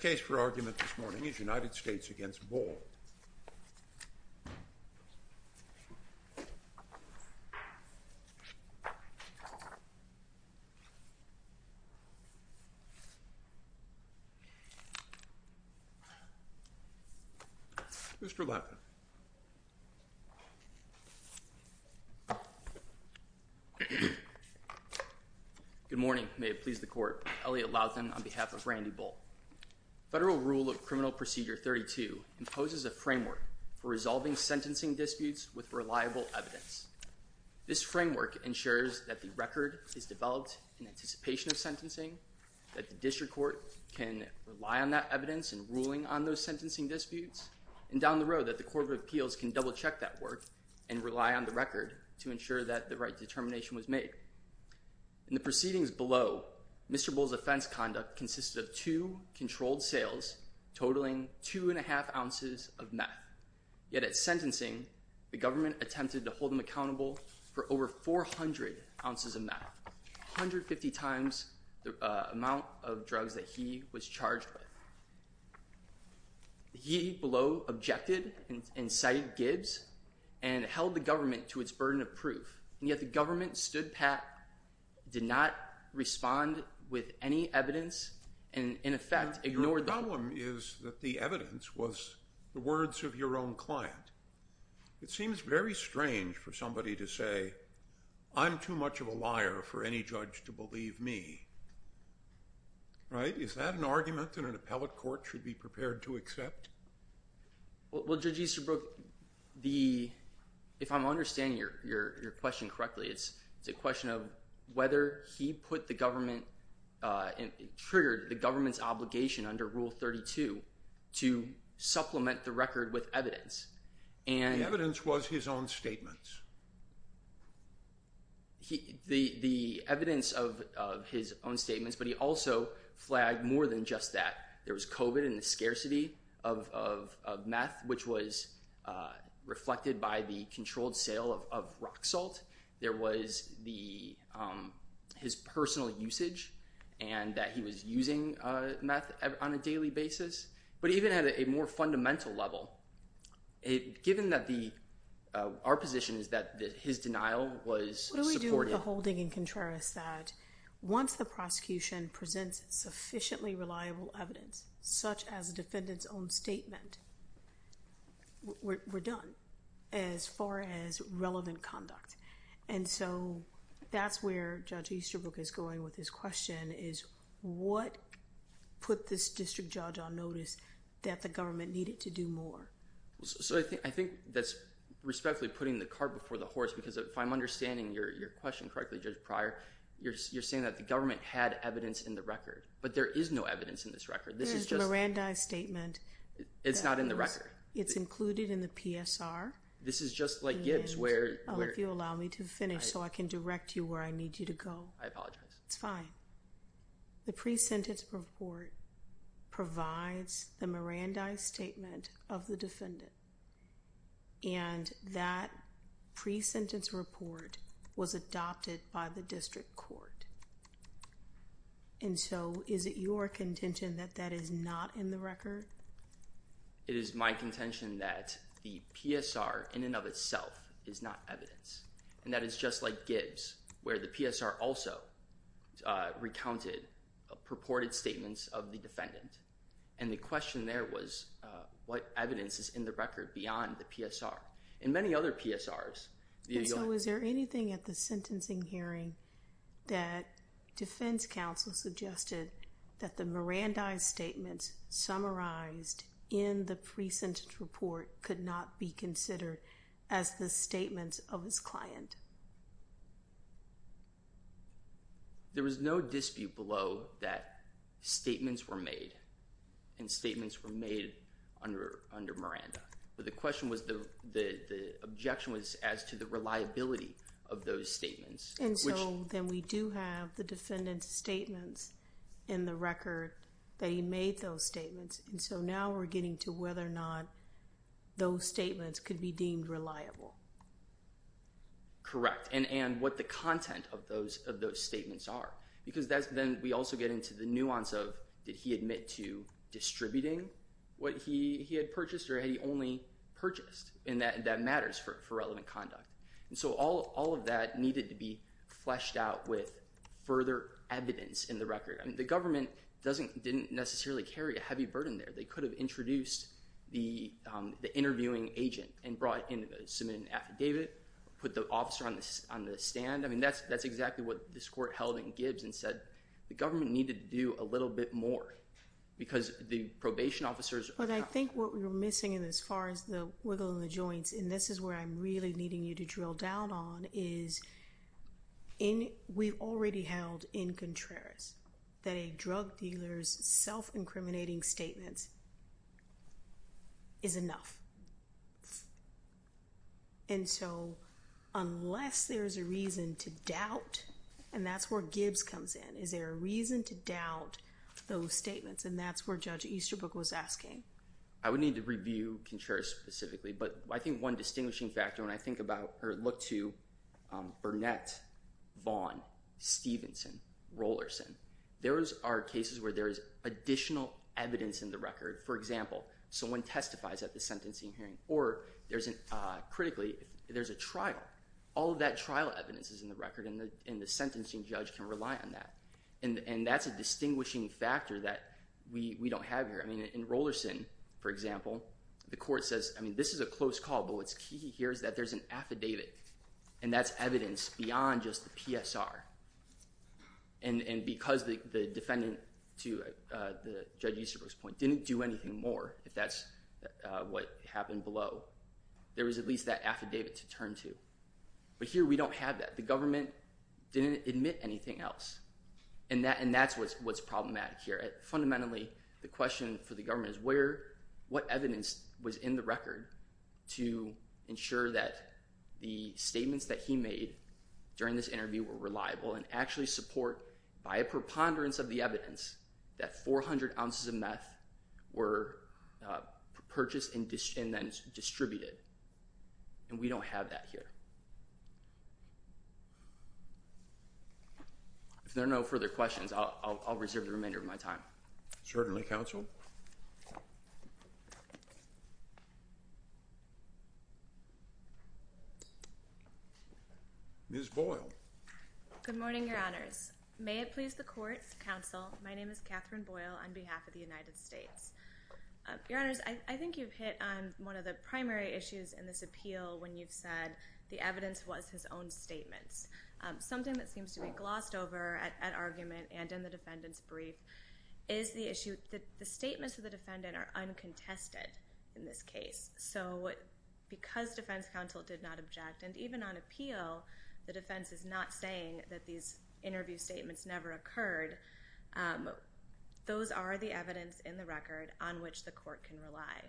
The case for argument this morning is United States v. Bull. Mr. Latham. Good morning. May it please the court, Elliot Latham on behalf of Randy Bull. Federal Rule of Criminal Procedure 32 imposes a framework for resolving sentencing disputes with reliable evidence. This framework ensures that the record is developed in anticipation of sentencing, that the district court can rely on that evidence in ruling on those sentencing disputes, and down the road that the Court of Appeals can double check that work and rely on the record to ensure that the right determination was made. In the proceedings below, Mr. Bull's offense conduct consisted of two controlled sales totaling two and a half ounces of meth. Yet at sentencing, the government attempted to hold him accountable for over 400 ounces of meth, 150 times the amount of drugs that he was charged with. He below objected and cited Gibbs and held the government to its burden of proof, and yet the government stood pat, did not respond with any evidence, and in effect ignored the court. The problem is that the evidence was the words of your own client. It seems very strange for somebody to say, I'm too much of a liar for any judge to believe me. Right? Is that an argument that an appellate court should be prepared to accept? Well, Judge Easterbrook, if I'm understanding your question correctly, it's a question of whether he put the government and triggered the government's obligation under Rule 32 to supplement the record with evidence. The evidence was his own statements. The evidence of his own statements, but he also flagged more than just that. There was COVID and the scarcity of meth, which was reflected by the controlled sale of rock salt. There was his personal usage and that he was using meth on a daily basis. But even at a more fundamental level, given that our position is that his denial was supportive. What do we do with the holding in contrast that once the prosecution presents sufficiently reliable evidence, such as a defendant's own statement, we're done as far as relevant conduct? And so that's where Judge Easterbrook is going with his question is, what put this district judge on notice that the government needed to do more? So I think that's respectfully putting the cart before the horse, because if I'm understanding your question correctly, Judge Pryor, you're saying that the government had evidence in the record, but there is no evidence in this record. This is just a Miranda statement. It's not in the record. It's included in the PSR. This is just like Gibbs where you allow me to finish so I can direct you where I need you to go. I apologize. It's fine. The pre-sentence report provides the Miranda statement of the defendant. And that pre-sentence report was adopted by the district court. And so is it your contention that that is not in the record? It is my contention that the PSR in and of itself is not evidence, and that it's just like Gibbs where the PSR also recounted purported statements of the defendant. And the question there was what evidence is in the record beyond the PSR? In many other PSRs, you'll find- And so is there anything at the sentencing hearing that defense counsel suggested that the Miranda statements summarized in the pre-sentence report could not be considered as the statements of his client? There was no dispute below that statements were made, and statements were made under Miranda. But the question was the objection was as to the reliability of those statements. And so then we do have the defendant's statements in the record that he made those statements, and so now we're getting to whether or not those statements could be deemed reliable. Correct, and what the content of those statements are, because then we also get into the nuance of did he admit to distributing what he had purchased or had he only purchased, and that matters for relevant conduct. And so all of that needed to be fleshed out with further evidence in the record. The government didn't necessarily carry a heavy burden there. They could have introduced the interviewing agent and brought in an affidavit, put the officer on the stand. I mean that's exactly what this court held in Gibbs and said the government needed to do a little bit more because the probation officers- I think what we were missing as far as the wiggle and the joints, and this is where I'm really needing you to drill down on is we've already held in Contreras that a drug dealer's self-incriminating statements is enough. And so unless there's a reason to doubt, and that's where Gibbs comes in, is there a reason to doubt those statements? And that's where Judge Easterbrook was asking. I would need to review Contreras specifically, but I think one distinguishing factor when I think about or look to Burnett, Vaughn, Stevenson, Rollerson, those are cases where there is additional evidence in the record. For example, someone testifies at the sentencing hearing, or critically, there's a trial. All of that trial evidence is in the record, and the sentencing judge can rely on that. And that's a distinguishing factor that we don't have here. In Rollerson, for example, the court says this is a close call, but what's key here is that there's an affidavit, and that's evidence beyond just the PSR. And because the defendant, to Judge Easterbrook's point, didn't do anything more, if that's what happened below, there was at least that affidavit to turn to. But here we don't have that. The government didn't admit anything else, and that's what's problematic here. Fundamentally, the question for the government is what evidence was in the record to ensure that the statements that he made during this interview were reliable and actually support, by a preponderance of the evidence, that 400 ounces of meth were purchased and then distributed. And we don't have that here. If there are no further questions, I'll reserve the remainder of my time. Certainly, counsel. Ms. Boyle. Good morning, Your Honors. May it please the court, counsel, my name is Catherine Boyle on behalf of the United States. Your Honors, I think you've hit on one of the primary issues in this appeal when you've said the evidence was his own statements. Something that seems to be glossed over at argument and in the defendant's brief is the issue that the statements of the defendant are uncontested in this case. So because defense counsel did not object, and even on appeal, the defense is not saying that these interview statements never occurred, those are the evidence in the record on which the court can rely.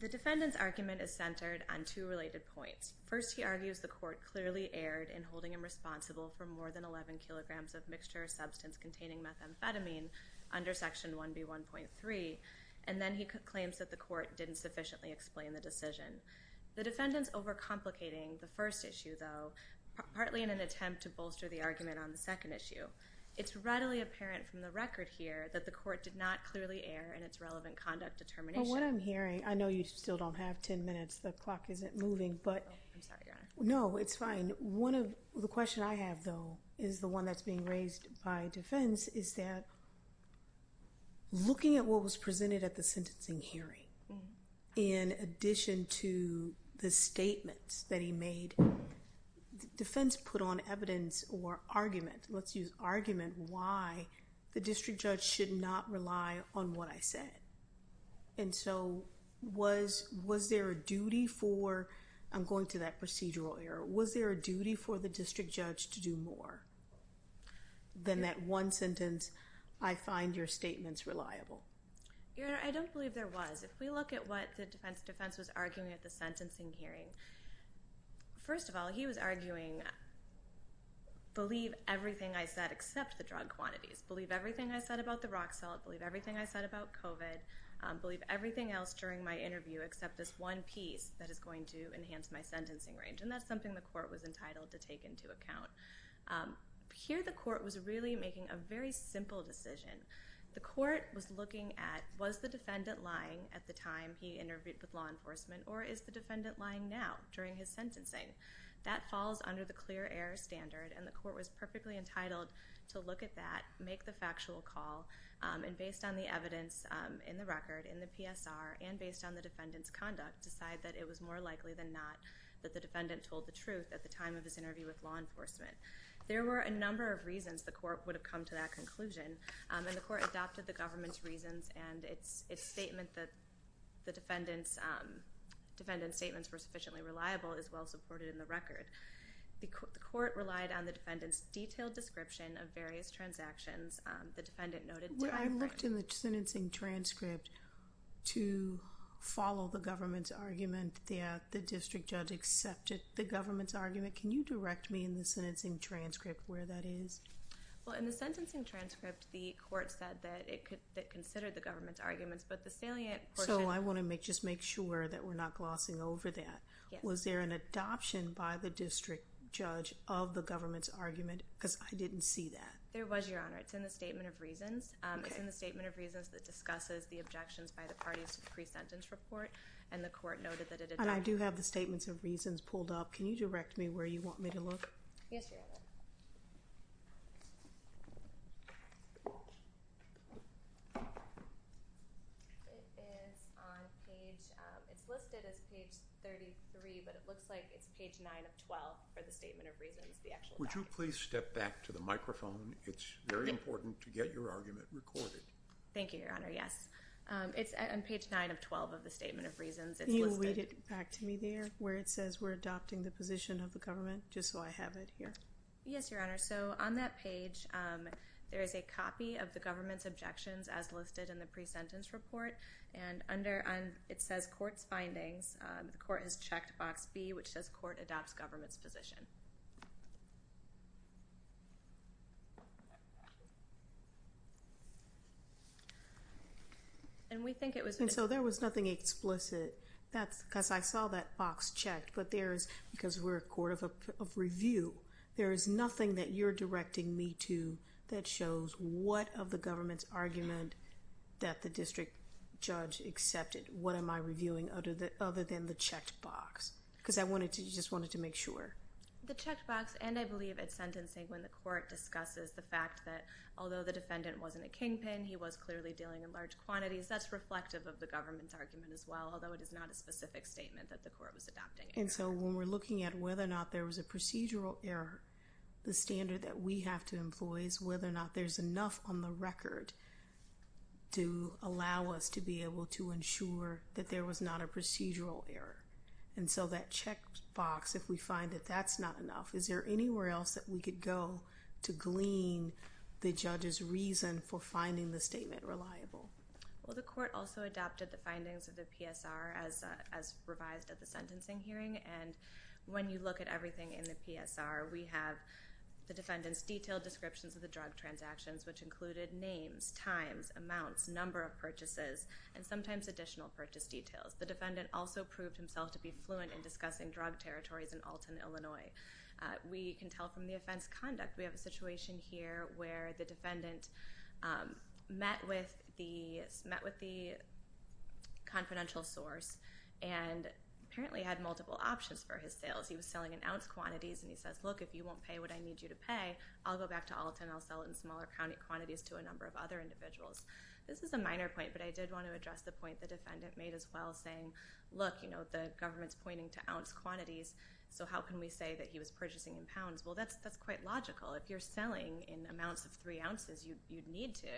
The defendant's argument is centered on two related points. First, he argues the court clearly erred in holding him responsible for more than 11 kilograms of mixture substance containing methamphetamine under Section 1B1.3, and then he claims that the court didn't sufficiently explain the decision. The defendant's overcomplicating the first issue, though, partly in an attempt to bolster the argument on the second issue. It's readily apparent from the record here that the court did not clearly err in its relevant conduct determination. But what I'm hearing, I know you still don't have 10 minutes, the clock isn't moving, but... I'm sorry, Your Honor. No, it's fine. The question I have, though, is the one that's being raised by defense, is that looking at what was presented at the sentencing hearing, in addition to the statements that he made, defense put on evidence or argument, let's use argument, why the district judge should not rely on what I said. And so was there a duty for, I'm going to that procedural error, was there a duty for the district judge to do more than that one sentence, I find your statements reliable? Your Honor, I don't believe there was. If we look at what the defense was arguing at the sentencing hearing, first of all, he was arguing, believe everything I said except the drug quantities, believe everything I said about the Roxell, believe everything I said about COVID, believe everything else during my interview except this one piece that is going to enhance my sentencing range. And that's something the court was entitled to take into account. Here the court was really making a very simple decision. The court was looking at was the defendant lying at the time he interviewed with law enforcement or is the defendant lying now during his sentencing. That falls under the clear error standard, and the court was perfectly entitled to look at that, make the factual call, and based on the evidence in the record, in the PSR, and based on the defendant's conduct, decide that it was more likely than not that the defendant told the truth at the time of his interview with law enforcement. There were a number of reasons the court would have come to that conclusion, and the court adopted the government's reasons, and its statement that the defendant's statements were sufficiently reliable is well supported in the record. The court relied on the defendant's detailed description of various transactions the defendant noted to the court. I looked in the sentencing transcript to follow the government's argument that the district judge accepted the government's argument. Can you direct me in the sentencing transcript where that is? Well, in the sentencing transcript, the court said that it considered the government's arguments, but the salient portion of it. So I want to just make sure that we're not glossing over that. Was there an adoption by the district judge of the government's argument? Because I didn't see that. There was, Your Honor. It's in the statement of reasons. It's in the statement of reasons that discusses the objections by the parties to the pre-sentence report, and the court noted that it adopted. And I do have the statements of reasons pulled up. Can you direct me where you want me to look? Yes, Your Honor. It is on page 33, but it looks like it's page 9 of 12 for the statement of reasons. Would you please step back to the microphone? It's very important to get your argument recorded. Thank you, Your Honor. Yes, it's on page 9 of 12 of the statement of reasons. Can you read it back to me there where it says we're adopting the position of the government, just so I have it here? Yes, Your Honor. So on that page, there is a copy of the government's objections as listed in the pre-sentence report, and it says court's findings. The court has checked box B, which says court adopts government's position. And so there was nothing explicit, because I saw that box checked, but there is, because we're a court of review, there is nothing that you're directing me to that shows what of the government's argument that the district judge accepted. What am I reviewing other than the checked box? Because I just wanted to make sure. The checked box, and I believe at sentencing when the court discusses the fact that although the defendant wasn't a kingpin, he was clearly dealing in large quantities, that's reflective of the government's argument as well, although it is not a specific statement that the court was adopting. And so when we're looking at whether or not there was a procedural error, the standard that we have to employ is whether or not there's enough on the record to allow us to be able to ensure that there was not a procedural error. And so that checked box, if we find that that's not enough, is there anywhere else that we could go to glean the judge's reason for finding the statement reliable? Well, the court also adopted the findings of the PSR as revised at the sentencing hearing, and when you look at everything in the PSR, we have the defendant's detailed descriptions of the drug transactions, which included names, times, amounts, number of purchases, and sometimes additional purchase details. The defendant also proved himself to be fluent in discussing drug territories in Alton, Illinois. We can tell from the offense conduct. We have a situation here where the defendant met with the confidential source and apparently had multiple options for his sales. He was selling in ounce quantities, and he says, look, if you won't pay what I need you to pay, I'll go back to Alton, I'll sell it in smaller quantities to a number of other individuals. This is a minor point, but I did want to address the point the defendant made as well, saying, look, you know, the government's pointing to ounce quantities, so how can we say that he was purchasing in pounds? Well, that's quite logical. If you're selling in amounts of three ounces, you'd need to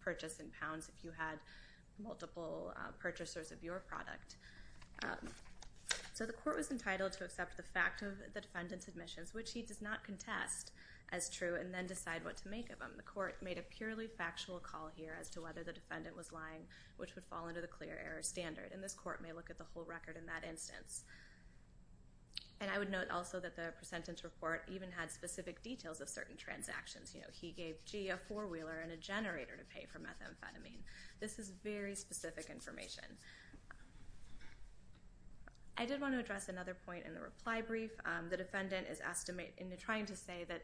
purchase in pounds if you had multiple purchasers of your product. So the court was entitled to accept the fact of the defendant's admissions, which he does not contest as true and then decide what to make of them. The court made a purely factual call here as to whether the defendant was lying, which would fall under the clear error standard, and this court may look at the whole record in that instance. And I would note also that the presentence report even had specific details of certain transactions. You know, he gave Gee a four-wheeler and a generator to pay for methamphetamine. This is very specific information. I did want to address another point in the reply brief. The defendant is trying to say that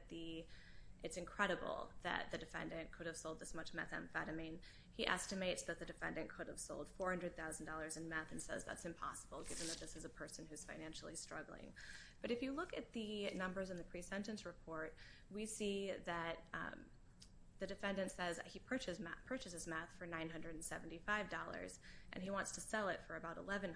it's incredible that the defendant could have sold this much methamphetamine. He estimates that the defendant could have sold $400,000 in meth and says that's impossible, given that this is a person who's financially struggling. But if you look at the numbers in the presentence report, we see that the defendant says he purchases meth for $975, and he wants to sell it for about $1,100.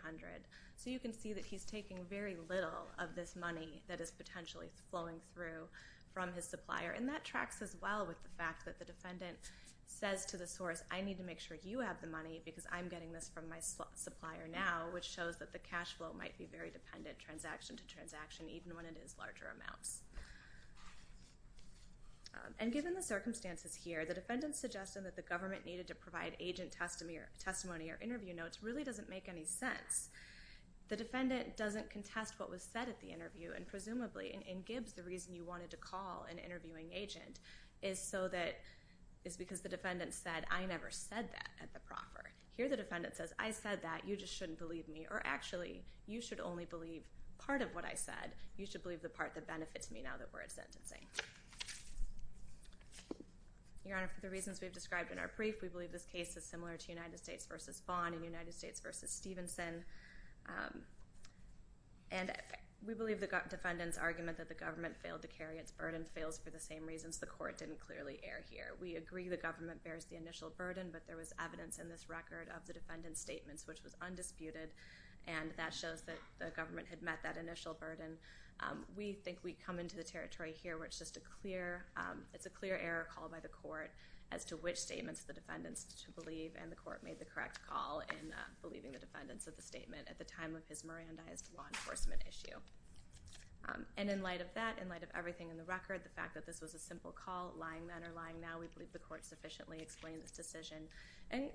So you can see that he's taking very little of this money that is potentially flowing through from his supplier, and that tracks as well with the fact that the defendant says to the source, I need to make sure you have the money because I'm getting this from my supplier now, which shows that the cash flow might be very dependent, transaction to transaction, even when it is larger amounts. And given the circumstances here, the defendant's suggestion that the government needed to provide agent testimony or interview notes really doesn't make any sense. The defendant doesn't contest what was said at the interview, and presumably in Gibbs, the reason you wanted to call an interviewing agent is because the defendant said, I never said that at the proffer. Here the defendant says, I said that. You just shouldn't believe me. Or actually, you should only believe part of what I said. You should believe the part that benefits me now that we're at sentencing. Your Honor, for the reasons we've described in our brief, we believe this case is similar to United States v. Vaughn and United States v. Stevenson. And we believe the defendant's argument that the government failed to carry its burden fails for the same reasons the court didn't clearly err here. We agree the government bears the initial burden, but there was evidence in this record of the defendant's statements which was undisputed, and that shows that the government had met that initial burden. We think we come into the territory here where it's just a clear error call by the court as to which statements the defendants should believe, and the court made the correct call in believing the defendants of the statement at the time of his Mirandized law enforcement issue. And in light of that, in light of everything in the record, the fact that this was a simple call, lying then or lying now, we believe the court sufficiently explained this decision,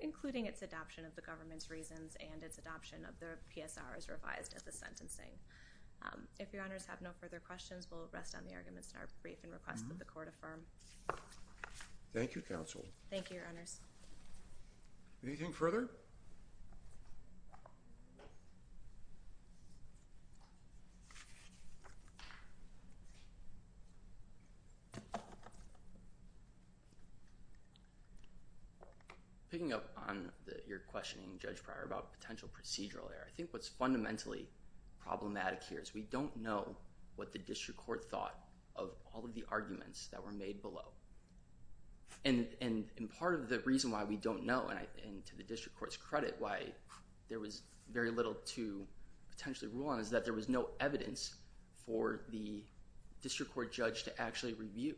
including its adoption of the government's reasons and its adoption of the PSR as revised at the sentencing. If Your Honors have no further questions, we'll rest on the arguments in our brief and request that the court affirm. Thank you, counsel. Thank you, Your Honors. Anything further? Picking up on your questioning, Judge Pryor, about potential procedural error, I think what's fundamentally problematic here is we don't know what the district court thought of all of the arguments that were made below. And part of the reason why we don't know, and to the district court's credit, why there was very little to potentially rule on is that there was no evidence for the district court judge to actually review.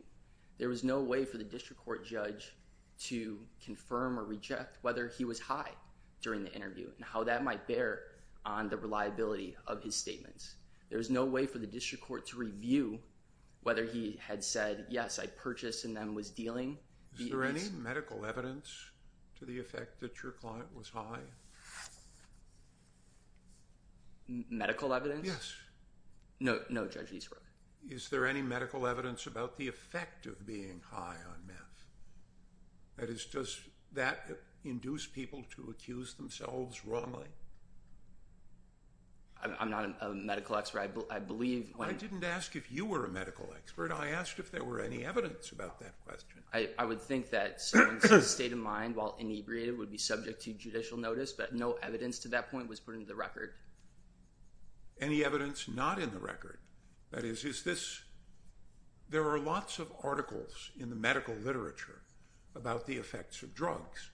There was no way for the district court judge to confirm or reject whether he was high during the interview and how that might bear on the reliability of his statements. There was no way for the district court to review whether he had said, yes, I purchased and then was dealing. Is there any medical evidence to the effect that your client was high? Medical evidence? Yes. No, Judge Eastbrook. Is there any medical evidence about the effect of being high on meth? That is, does that induce people to accuse themselves wrongly? I'm not a medical expert. I believe when— I didn't ask if you were a medical expert. I asked if there were any evidence about that question. I would think that someone's state of mind, while inebriated, would be subject to judicial notice, but no evidence to that point was put into the record. Any evidence not in the record? That is, is this— There are lots of articles in the medical literature about the effects of drugs.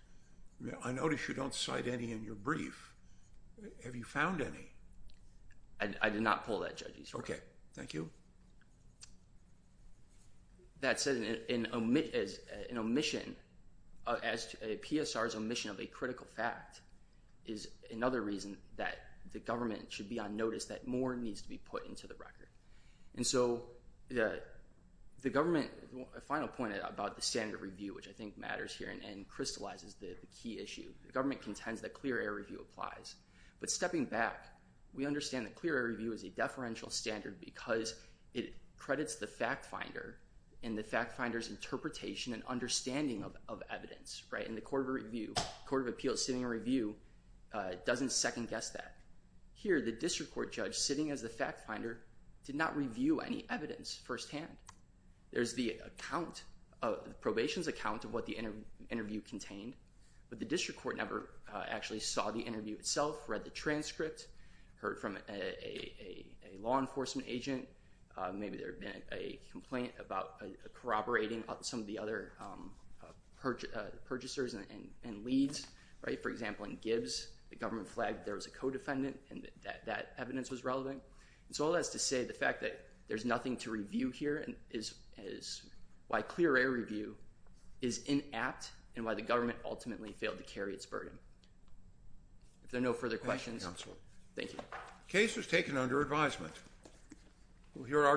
I notice you don't cite any in your brief. Have you found any? I did not pull that, Judge Eastbrook. Okay. Thank you. That said, an omission, a PSR's omission of a critical fact, is another reason that the government should be on notice that more needs to be put into the record. And so, the government— A final point about the standard review, which I think matters here and crystallizes the key issue. The government contends that clear air review applies. But stepping back, we understand that clear air review is a deferential standard because it credits the fact finder and the fact finder's interpretation and understanding of evidence. And the Court of Appeals sitting a review doesn't second-guess that. Here, the district court judge sitting as the fact finder did not review any evidence firsthand. There's the probation's account of what the interview contained, but the district court never actually saw the interview itself, read the transcript, heard from a law enforcement agent. Maybe there had been a complaint about corroborating some of the other purchasers and leads, right? For example, in Gibbs, the government flagged there was a co-defendant and that evidence was relevant. And so, all that's to say the fact that there's nothing to review here is why clear air review is inapt and why the government ultimately failed to carry its burden. If there are no further questions— Thank you. The case was taken under advisement. You're our guest.